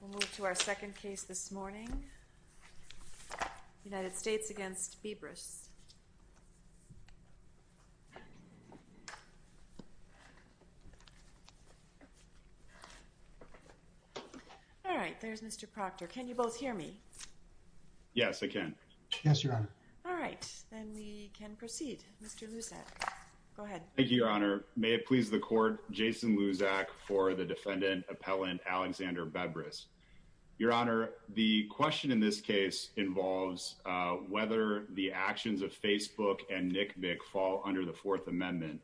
We'll move to our second case this morning, United States v. Bebris. All right, there's Mr. Proctor. Can you both hear me? Yes, I can. Yes, Your Honor. All right, then we can proceed. Mr. Luzak, go ahead. Thank you, Your Honor. May it please the Court, Jason Luzak for the defendant, appellant Alexander Bebris. Your Honor, the question in this case involves whether the actions of Facebook and Nick Bick fall under the Fourth Amendment.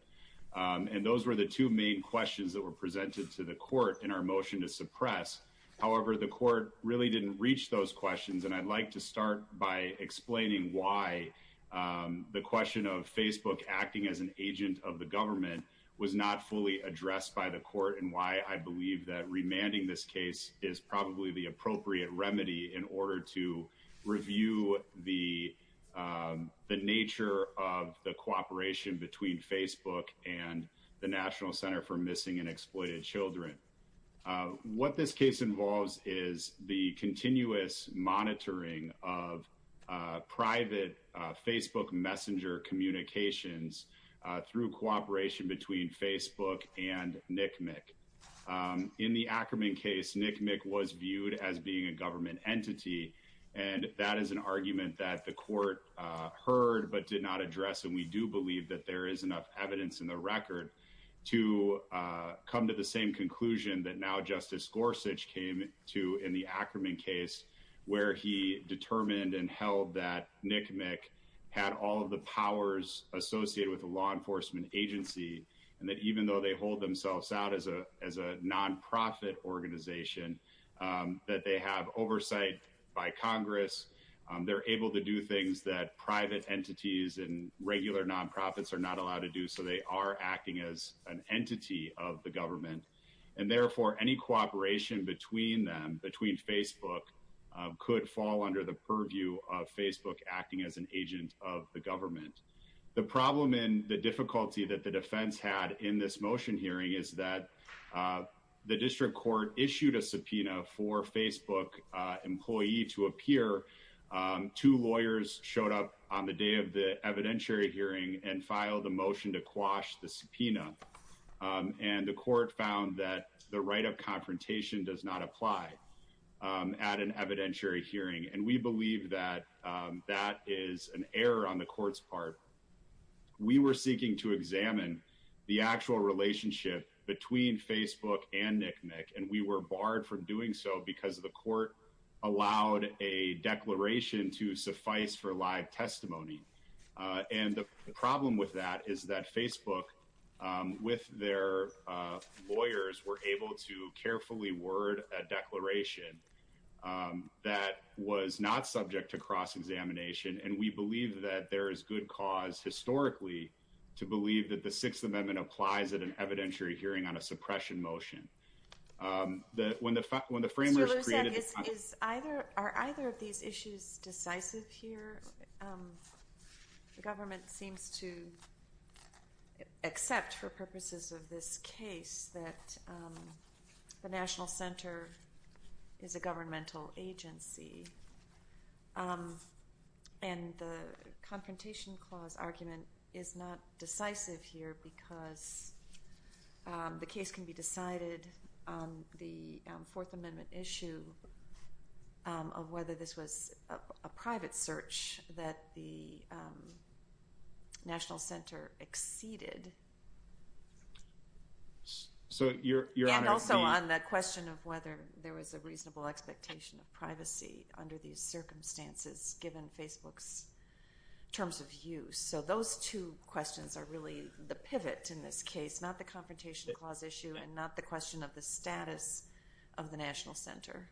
And those were the two main questions that were presented to the Court in our motion to suppress. However, the Court really didn't reach those questions. And I'd like to start by explaining why the question of Facebook acting as an agent of the government was not fully addressed by the Court, and why I believe that remanding this case is probably the appropriate remedy in order to review the nature of the cooperation between Facebook and the National Center for Missing and Exploited Children. What this case involves is the continuous monitoring of private Facebook messenger communications through cooperation between Facebook and Nick Bick. In the Ackerman case, Nick Bick was viewed as being a government entity, and that is an argument that the Court heard but did not address. And we do believe that there is enough evidence in the record to come to the same conclusion that now Justice Gorsuch came to in the Ackerman case, where he determined and held that Nick Bick had all of the powers associated with a law enforcement agency, and that even though they hold themselves out as a nonprofit organization, that they have oversight by Congress. They're able to do things that private entities and regular nonprofits are not allowed to do, so they are acting as an entity of the government. And therefore, any cooperation between them, between Facebook, could fall under the purview of Facebook acting as an agent of the government. The problem and the difficulty that the defense had in this motion hearing is that the district court issued a subpoena for a Facebook employee to appear. Two lawyers showed up on the day of the evidentiary hearing and filed a motion to quash the subpoena, and the court found that the right of confrontation does not apply at an evidentiary hearing. And we believe that that is an error on the court's part. We were seeking to examine the actual relationship between Facebook and Nick Bick, and we were barred from doing so because the court allowed a declaration to suffice for live testimony. And the problem with that is that Facebook, with their lawyers, were able to carefully word a declaration that was not subject to cross-examination, and we believe that there is good cause historically to believe that the Sixth Amendment applies at an evidentiary hearing on a suppression motion. When the framers created the— Mr. Lucek, are either of these issues decisive here? The government seems to accept, for purposes of this case, that the National Center is a governmental agency, and the Confrontation Clause argument is not decisive here because the case can be decided on the Fourth Amendment issue of whether this was a private search that the National Center exceeded. So, Your Honor, the— Yeah, and also on the question of whether there was a reasonable expectation of privacy under these circumstances, given Facebook's terms of use. So those two questions are really the pivot in this case, not the Confrontation Clause issue and not the question of the status of the National Center.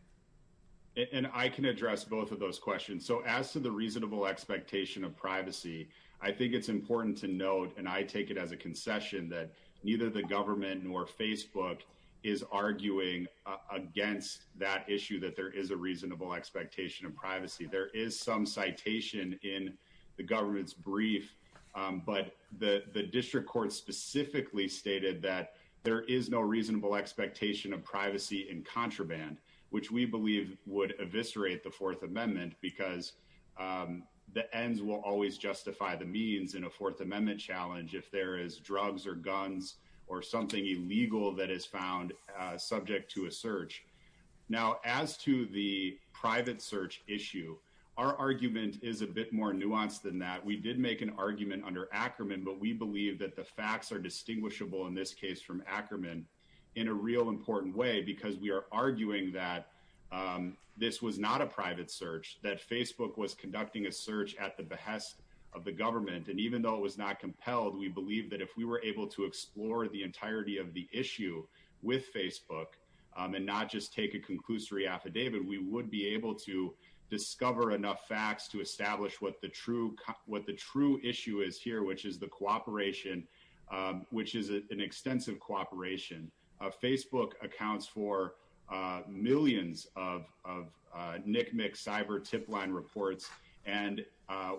And I can address both of those questions. So as to the reasonable expectation of privacy, I think it's important to note, and I take it as a concession, that neither the government nor Facebook is arguing against that issue that there is a reasonable expectation of privacy. There is some citation in the government's brief, but the district court specifically stated that there is no reasonable expectation of privacy in contraband, which we believe would eviscerate the Fourth Amendment, because the ends will always justify the means in a Fourth Amendment challenge if there is drugs or guns or something illegal that is found subject to a search. Now, as to the private search issue, our argument is a bit more nuanced than that. We did make an argument under Ackerman, but we believe that the facts are distinguishable in this case from Ackerman in a real important way because we are arguing that this was not a private search, that Facebook was conducting a search at the behest of the government. And even though it was not compelled, we believe that if we were able to explore the entirety of the issue with Facebook and not just take a conclusory affidavit, we would be able to discover enough facts to establish what the true issue is here, which is the cooperation, which is an extensive cooperation. Facebook accounts for millions of NCMEC cyber tip line reports, and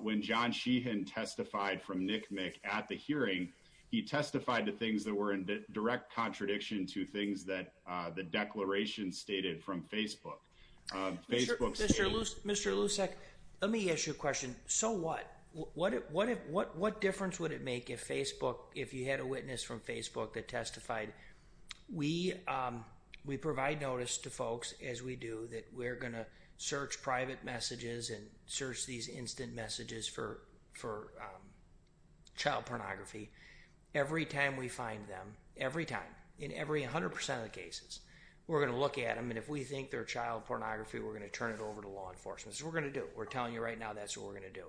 when John Sheehan testified from NCMEC at the hearing, he testified to things that were in direct contradiction to things that the declaration stated from Facebook. Mr. Lusek, let me ask you a question. So what? What difference would it make if Facebook, if you had a witness from Facebook that testified? We provide notice to folks, as we do, that we're going to search private messages and search these instant messages for child pornography. Every time we find them, every time, in every 100% of the cases, we're going to look at them, and if we think they're child pornography, we're going to turn it over to law enforcement. That's what we're going to do. We're telling you right now that's what we're going to do.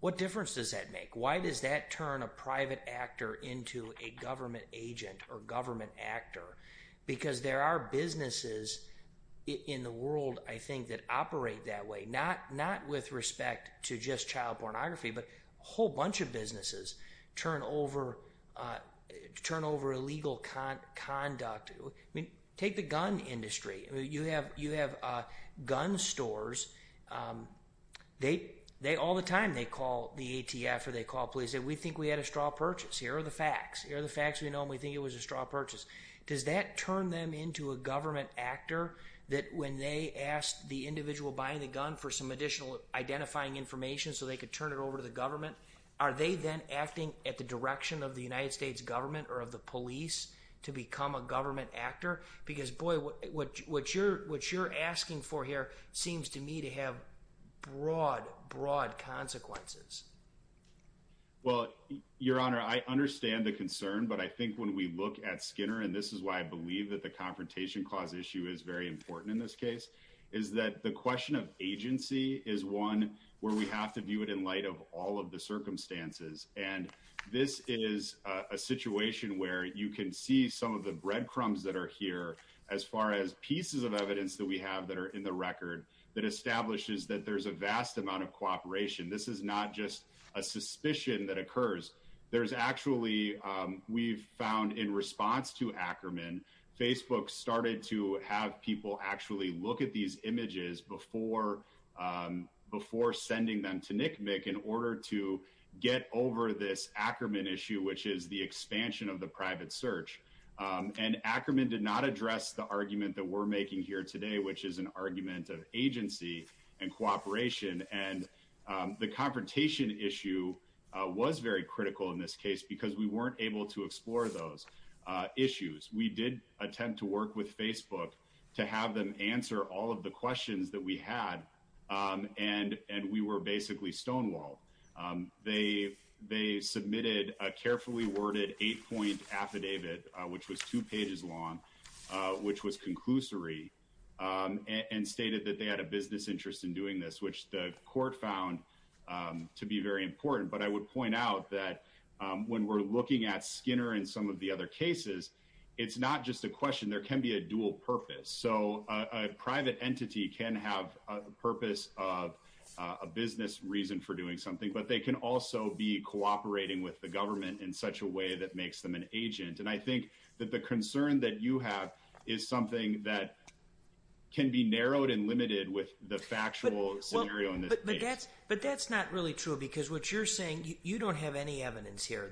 What difference does that make? Why does that turn a private actor into a government agent or government actor? Because there are businesses in the world, I think, that operate that way. Not with respect to just child pornography, but a whole bunch of businesses turn over illegal conduct. Take the gun industry. You have gun stores. All the time they call the ATF or they call police and say, we think we had a straw purchase. Here are the facts. Here are the facts we know, and we think it was a straw purchase. Does that turn them into a government actor, that when they ask the individual buying the gun for some additional identifying information so they could turn it over to the government, are they then acting at the direction of the United States government or of the police to become a government actor? Because, boy, what you're asking for here seems to me to have broad, broad consequences. Well, Your Honor, I understand the concern, but I think when we look at Skinner, and this is why I believe that the Confrontation Clause issue is very important in this case, is that the question of agency is one where we have to view it in light of all of the circumstances. And this is a situation where you can see some of the breadcrumbs that are here as far as pieces of evidence that we have that are in the record that establishes that there's a vast amount of cooperation. This is not just a suspicion that occurs. There's actually, we've found in response to Ackerman, Facebook started to have people actually look at these images before sending them to NCMEC in order to get over this Ackerman issue, which is the expansion of the private search. And Ackerman did not address the argument that we're making here today, which is an argument of agency and cooperation. And the confrontation issue was very critical in this case because we weren't able to explore those issues. We did attempt to work with Facebook to have them answer all of the questions that we had, and we were basically stonewalled. They submitted a carefully worded eight-point affidavit, which was two pages long, which was conclusory, and stated that they had a business interest in doing this, which the court found to be very important. But I would point out that when we're looking at Skinner and some of the other cases, it's not just a question. There can be a dual purpose. So a private entity can have a purpose of a business reason for doing something, but they can also be cooperating with the government in such a way that makes them an agent. And I think that the concern that you have is something that can be narrowed and limited with the factual scenario in this case. But that's not really true because what you're saying, you don't have any evidence here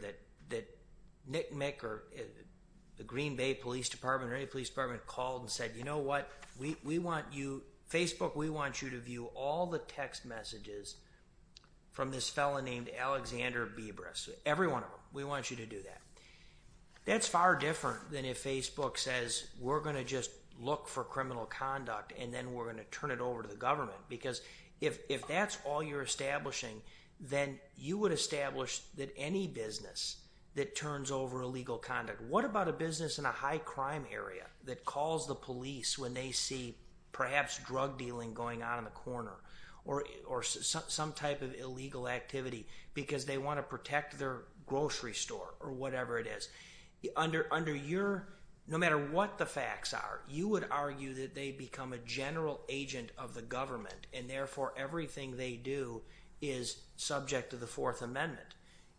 that Nick or the Green Bay Police Department or any police department called and said, you know what, we want you, Facebook, we want you to view all the text messages from this fellow named Alexander Bebris, every one of them. We want you to do that. That's far different than if Facebook says we're going to just look for criminal conduct and then we're going to turn it over to the government because if that's all you're establishing, then you would establish that any business that turns over illegal conduct, what about a business in a high crime area that calls the police when they see perhaps drug dealing going on in the corner or some type of illegal activity because they want to protect their grocery store or whatever it is. Under your, no matter what the facts are, you would argue that they become a general agent of the government and therefore everything they do is subject to the Fourth Amendment.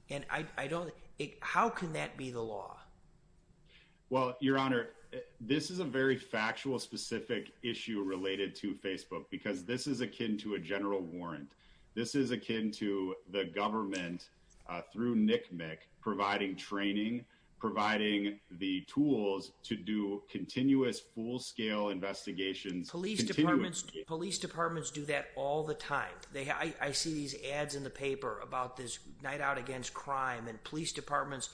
And I don't, how can that be the law? Well, your honor, this is a very factual specific issue related to Facebook because this is akin to a general warrant. This is akin to the government through Nick Mick providing training, providing the tools to do continuous full scale investigations. Police departments do that all the time. I see these ads in the paper about this night out against crime and police departments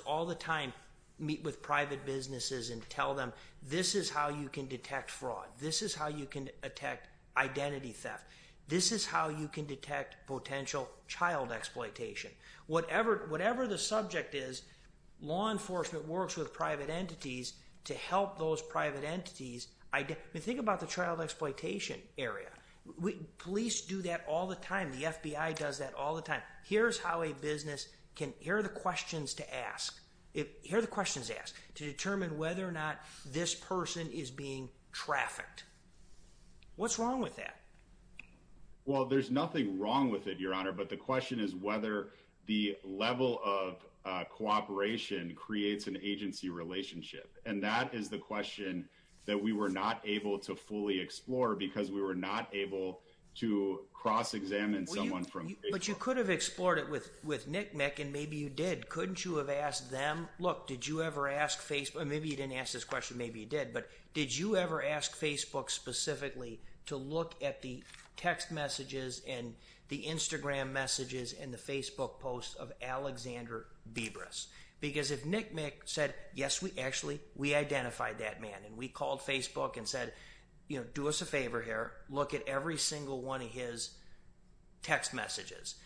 all the time meet with private businesses and tell them this is how you can detect fraud. This is how you can detect identity theft. This is how you can detect potential child exploitation. Whatever the subject is, law enforcement works with private entities to help those private entities. Think about the child exploitation area. Police do that all the time. The FBI does that all the time. Here's how a business can, here are the questions to ask. Here are the questions to ask to determine whether or not this person is being trafficked. What's wrong with that? Well, there's nothing wrong with it, your honor, but the question is whether the level of cooperation creates an agency relationship. And that is the question that we were not able to fully explore because we were not able to cross examine someone from Facebook. But you could have explored it with Nick Mick and maybe you did. Couldn't you have asked them, look, did you ever ask Facebook, maybe you didn't ask this question, maybe you did, but did you ever ask Facebook specifically to look at the text messages and the Instagram messages and the Facebook posts of Alexander Bibras? Because if Nick Mick said, yes, we actually, we identified that man and we called Facebook and said, you know, do us a favor here, look at every single one of his text messages,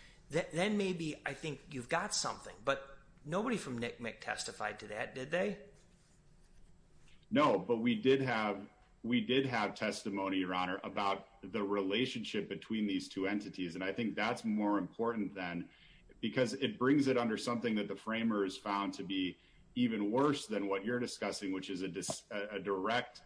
then maybe I think you've got something. But nobody from Nick Mick testified to that, did they? No, but we did have testimony, your honor, about the relationship between these two entities. And I think that's more important then because it brings it under something that the framers found to be even worse than what you're discussing, which is a direct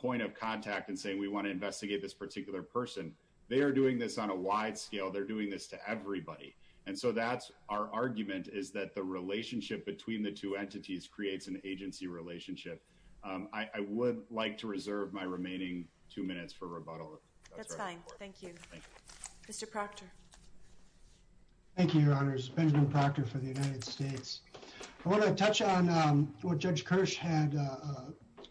point of contact and saying we want to investigate this particular person. They are doing this on a wide scale. They're doing this to everybody. And so that's our argument is that the relationship between the two entities creates an agency relationship. I would like to reserve my remaining two minutes for rebuttal. That's fine. Thank you. Mr. Proctor. Thank you, your honors. Benjamin Proctor for the United States. I want to touch on what Judge Kirsch had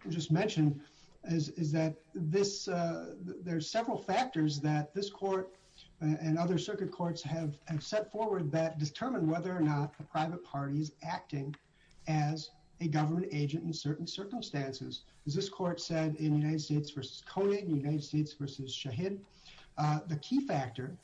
just mentioned, is that there's several factors that this court and other circuit courts have set forward that determine whether or not a private party is acting as a government agent in certain circumstances. As this court said in United States v. Conan, United States v. Shahid, the key factor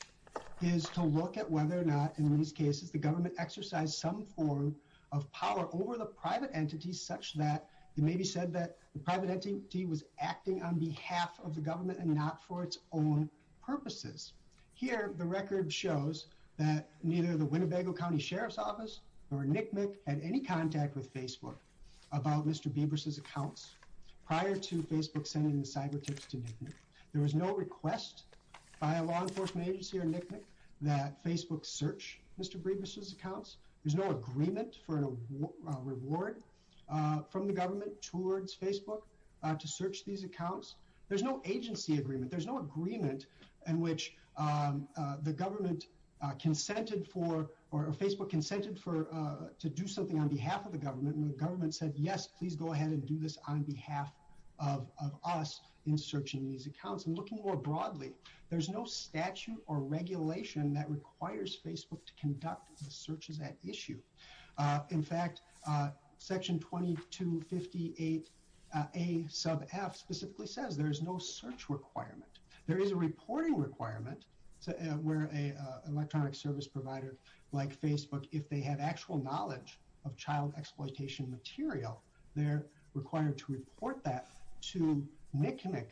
is to look at whether or not in these cases the government exercised some form of power over the private entity such that it may be said that the private entity was acting on behalf of the government and not for its own purposes. Here the record shows that neither the Winnebago County Sheriff's Office or NCMEC had any contact with Facebook about Mr. Bieber's accounts prior to Facebook sending the cyber tips to NCMEC. There was no request by a law enforcement agency or NCMEC that Facebook search Mr. Bieber's accounts. There's no agreement for a reward from the government towards Facebook to search these accounts. There's no agency agreement. There's no agreement in which the government consented for, or Facebook consented to do something on behalf of the government, and the government said, yes, please go ahead and do this on behalf of us in searching these accounts. And looking more broadly, there's no statute or regulation that requires Facebook to conduct the searches at issue. In fact, Section 2258a sub f specifically says there is no search requirement. There is a reporting requirement where an electronic service provider like Facebook, if they have actual knowledge of child exploitation material, they're required to report that to NCMEC.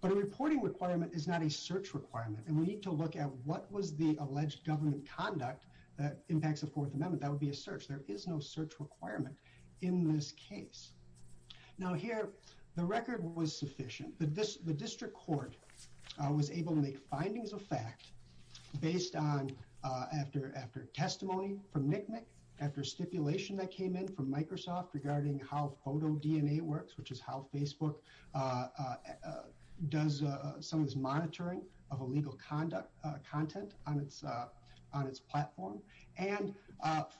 But a reporting requirement is not a search requirement, and we need to look at what was the alleged government conduct that impacts the Fourth Amendment. That would be a search. There is no search requirement in this case. Now here, the record was sufficient. The district court was able to make findings of fact based on, after testimony from NCMEC, after stipulation that came in from Microsoft regarding how photo DNA works, which is how Facebook does some of this monitoring of illegal content on its platform, and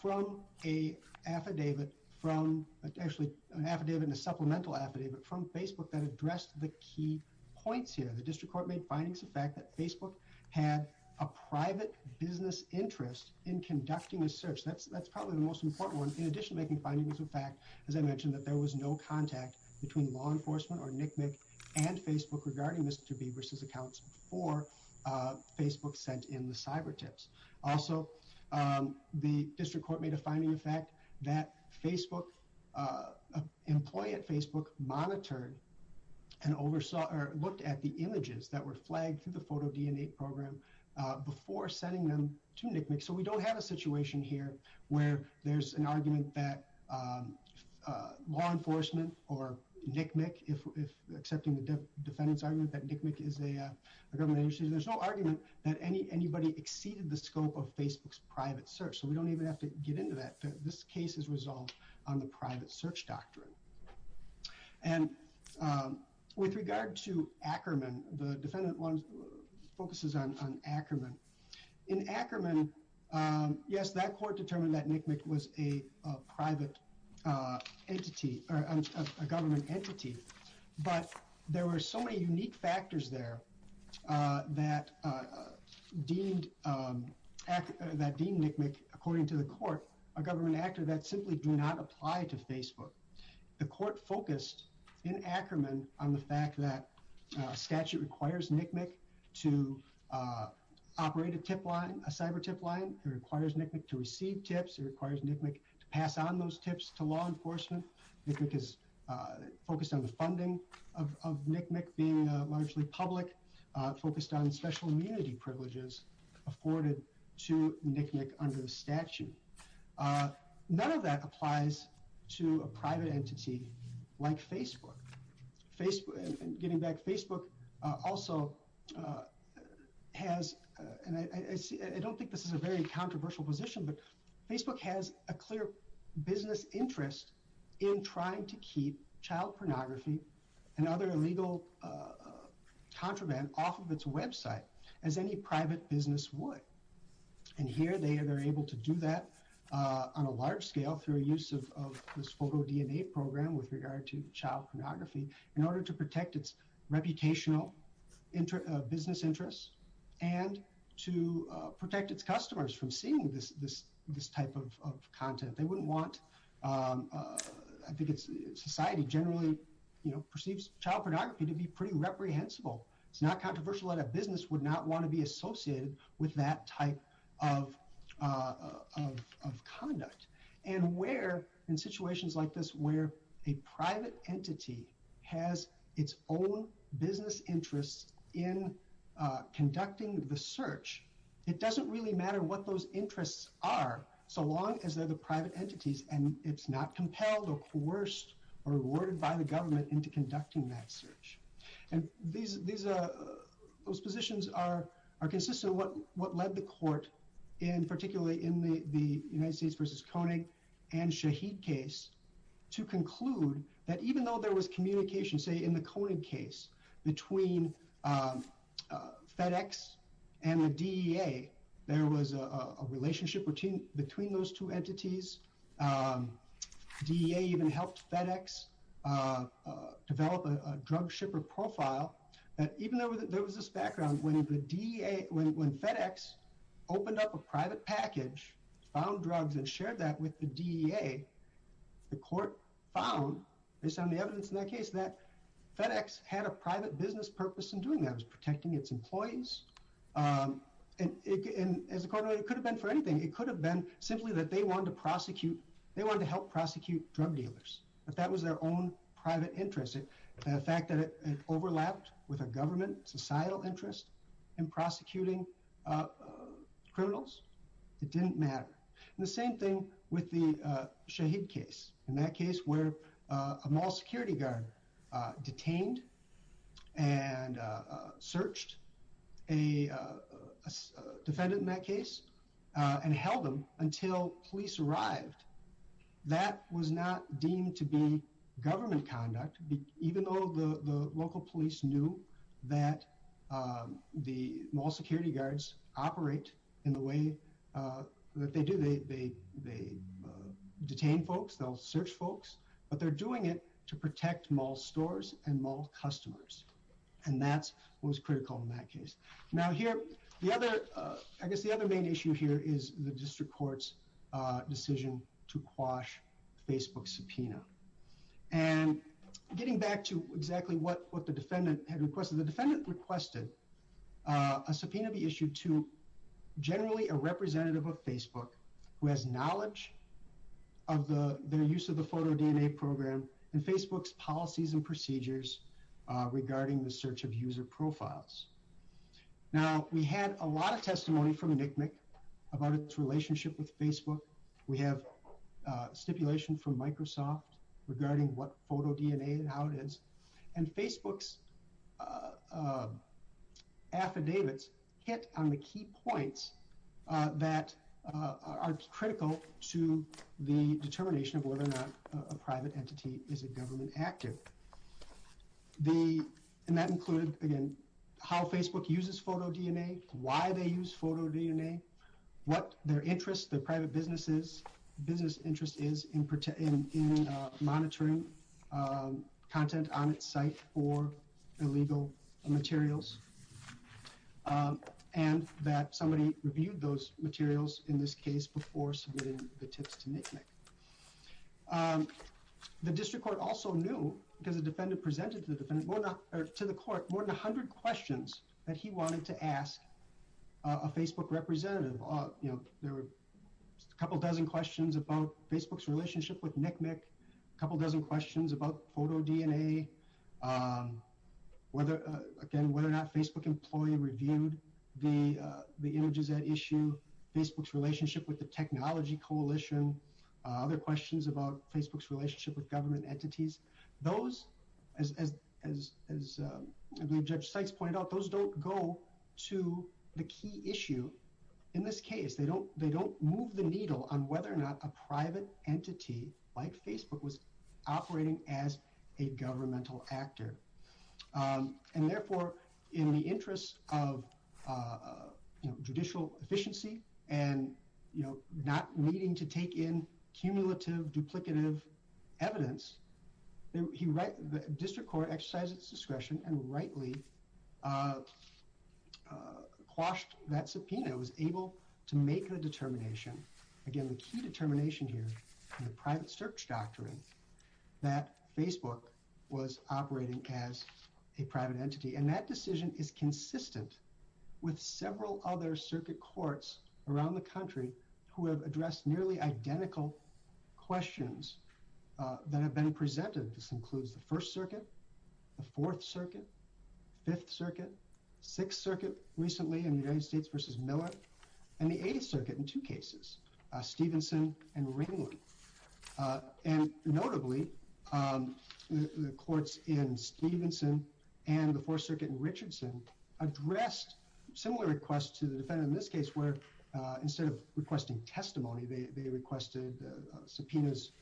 from an affidavit, actually an affidavit and a supplemental affidavit from Facebook that addressed the key points here. The district court made findings of fact that Facebook had a private business interest in conducting a search. That's probably the most important one. In addition to making findings of fact, as I mentioned, that there was no contact between law enforcement or NCMEC and Facebook regarding Mr. Bieber's accounts before Facebook sent in the cyber tips. Also, the district court made a finding of fact that Facebook, an employee at Facebook monitored and looked at the images that were flagged through the photo DNA program before sending them to NCMEC. So we don't have a situation here where there's an argument that law enforcement or NCMEC, if accepting the defendant's argument that NCMEC is a government agency, there's no argument that anybody exceeded the scope of Facebook's private search. So we don't even have to get into that. This case is resolved on the private search doctrine. And with regard to Ackerman, the defendant focuses on Ackerman. In Ackerman, yes, that court determined that NCMEC was a private entity, a government entity. But there were so many unique factors there that deemed NCMEC, according to the court, a government actor that simply do not apply to Facebook. The court focused in Ackerman on the fact that statute requires NCMEC to operate a tip line, a cyber tip line. It requires NCMEC to receive tips. It requires NCMEC to pass on those tips to law enforcement. NCMEC is focused on the funding of NCMEC being largely public, focused on special immunity privileges afforded to NCMEC under the statute. None of that applies to a private entity like Facebook. Getting back, Facebook also has, and I don't think this is a very controversial position, but Facebook has a clear business interest in trying to keep child pornography and other illegal contraband off of its website as any private business would. And here they are able to do that on a large scale through a use of this photo DNA program with regard to child pornography in order to protect its reputational business interests and to protect its customers from seeing this type of content. They wouldn't want, I think society generally, you know, perceives child pornography to be pretty reprehensible. It's not controversial that a business would not want to be associated with that type of conduct. And where in situations like this, where a private entity has its own business interests in conducting the search, it doesn't really matter what those interests are, so long as they're the private entities and it's not compelled or coerced or rewarded by the government into conducting that search. And those positions are consistent with what led the court, particularly in the United States versus Koenig and Shaheed case, to conclude that even though there was communication, say, in the Koenig case between FedEx and the DEA, there was a relationship between those two entities. DEA even helped FedEx develop a drug shipper profile. Even though there was this background when FedEx opened up a private package, found drugs and shared that with the DEA, the court found, based on the evidence in that case, that FedEx had a private business purpose in doing that. It was protecting its employees. And as a court, it could have been for anything. It could have been simply that they wanted to prosecute, they wanted to help prosecute drug dealers. But that was their own private interest. The fact that it overlapped with a government societal interest in prosecuting criminals, it didn't matter. And the same thing with the Shaheed case. In that case, where a mall security guard detained and searched a defendant in that case and held them until police arrived. That was not deemed to be government conduct, even though the local police knew that the mall security guards operate in the way that they do. They detain folks, they'll search folks, but they're doing it to protect mall stores and mall customers. And that was critical in that case. Now here, I guess the other main issue here is the district court's decision to quash Facebook subpoena. And getting back to exactly what the defendant had requested, the defendant requested a subpoena be issued to generally a representative of Facebook who has knowledge of the use of the photo DNA program and Facebook's policies and procedures regarding the search of user profiles. Now, we had a lot of testimony from NCMEC about its relationship with Facebook. We have stipulation from Microsoft regarding what photo DNA and how it is. And Facebook's affidavits hit on the key points that are critical to the determination of whether or not a private entity is a government active. And that included, again, how Facebook uses photo DNA, why they use photo DNA, what their interest, their private business interest is in monitoring content on its site for illegal materials. And that somebody reviewed those materials in this case before submitting the tips to NCMEC. The district court also knew, because the defendant presented to the court more than a hundred questions that he wanted to ask a Facebook representative. There were a couple dozen questions about Facebook's relationship with NCMEC, a couple dozen questions about photo DNA, again, whether or not Facebook employee reviewed the images at issue, Facebook's relationship with the technology coalition, other questions about Facebook's relationship with government entities. Those, as Judge Sykes pointed out, those don't go to the key issue in this case. They don't move the needle on whether or not a private entity like Facebook was operating as a governmental actor. And therefore, in the interest of judicial efficiency and not needing to take in cumulative duplicative evidence, the district court exercised its discretion and rightly quashed that subpoena. It was able to make a determination. Again, the key determination here in the private search doctrine that Facebook was operating as a private entity. And that decision is consistent with several other circuit courts around the country who have addressed nearly identical questions that have been presented. This includes the First Circuit, the Fourth Circuit, Fifth Circuit, Sixth Circuit recently in the United States versus Miller, and the Eighth Circuit in two cases, Stevenson and Ringland. And notably, the courts in Stevenson and the Fourth Circuit in Richardson addressed similar requests to the defendant in this case where instead of requesting testimony, they requested subpoenas,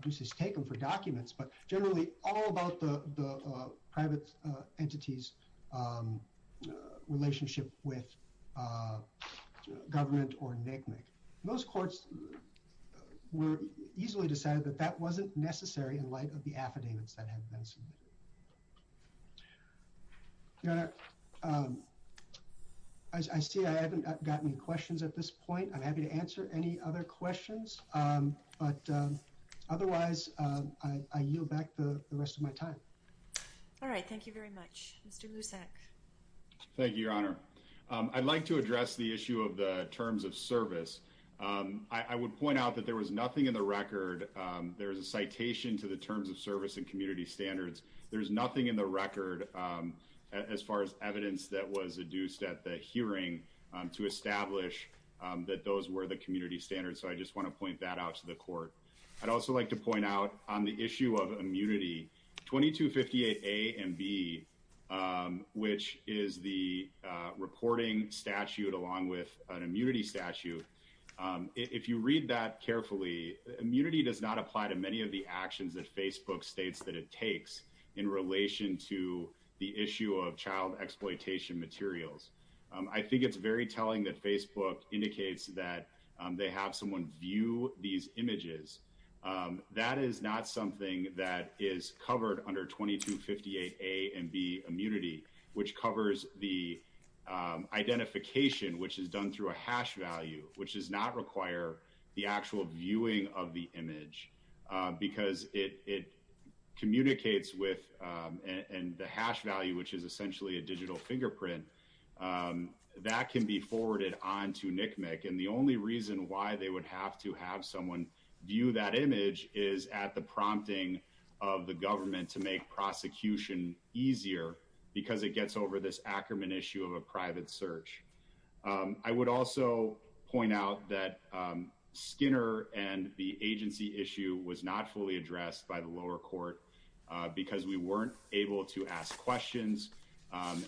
deuces taken for documents, but generally all about the private entity's relationship with government or NCMEC. Most courts were easily decided that that wasn't necessary in light of the affidavits that have been submitted. Your Honor, I see I haven't gotten any questions at this point. I'm happy to answer any other questions, but otherwise I yield back the rest of my time. All right, thank you very much. Mr. Lusak. Thank you, Your Honor. I'd like to address the issue of the terms of service. I would point out that there was nothing in the record. There's a citation to the terms of service and community standards. There's nothing in the record as far as evidence that was adduced at the hearing to establish that those were the community standards. So I just want to point that out to the court. I'd also like to point out on the issue of immunity, 2258 A and B, which is the reporting statute along with an immunity statute, if you read that carefully, immunity does not apply to many of the actions that Facebook states that it takes in relation to the issue of child exploitation materials. I think it's very telling that Facebook indicates that they have someone view these images. That is not something that is covered under 2258 A and B immunity, which covers the identification, which is done through a hash value, which does not require the actual viewing of the image because it communicates with, and the hash value, which is essentially a digital fingerprint, that can be forwarded on to NCMEC. And the only reason why they would have to have someone view that image is at the prompting of the government to make prosecution easier because it gets over this Ackerman issue of a private search. I would also point out that Skinner and the agency issue was not fully addressed by the lower court because we weren't able to ask questions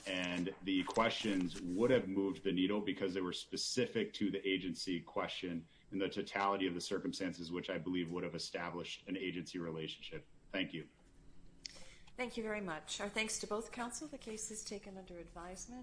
and the questions would have moved the needle because they were specific to the agency question and the totality of the circumstances, which I believe would have established an agency relationship. Thank you. Thank you very much. Our thanks to both counsel. The case is taken under advisement.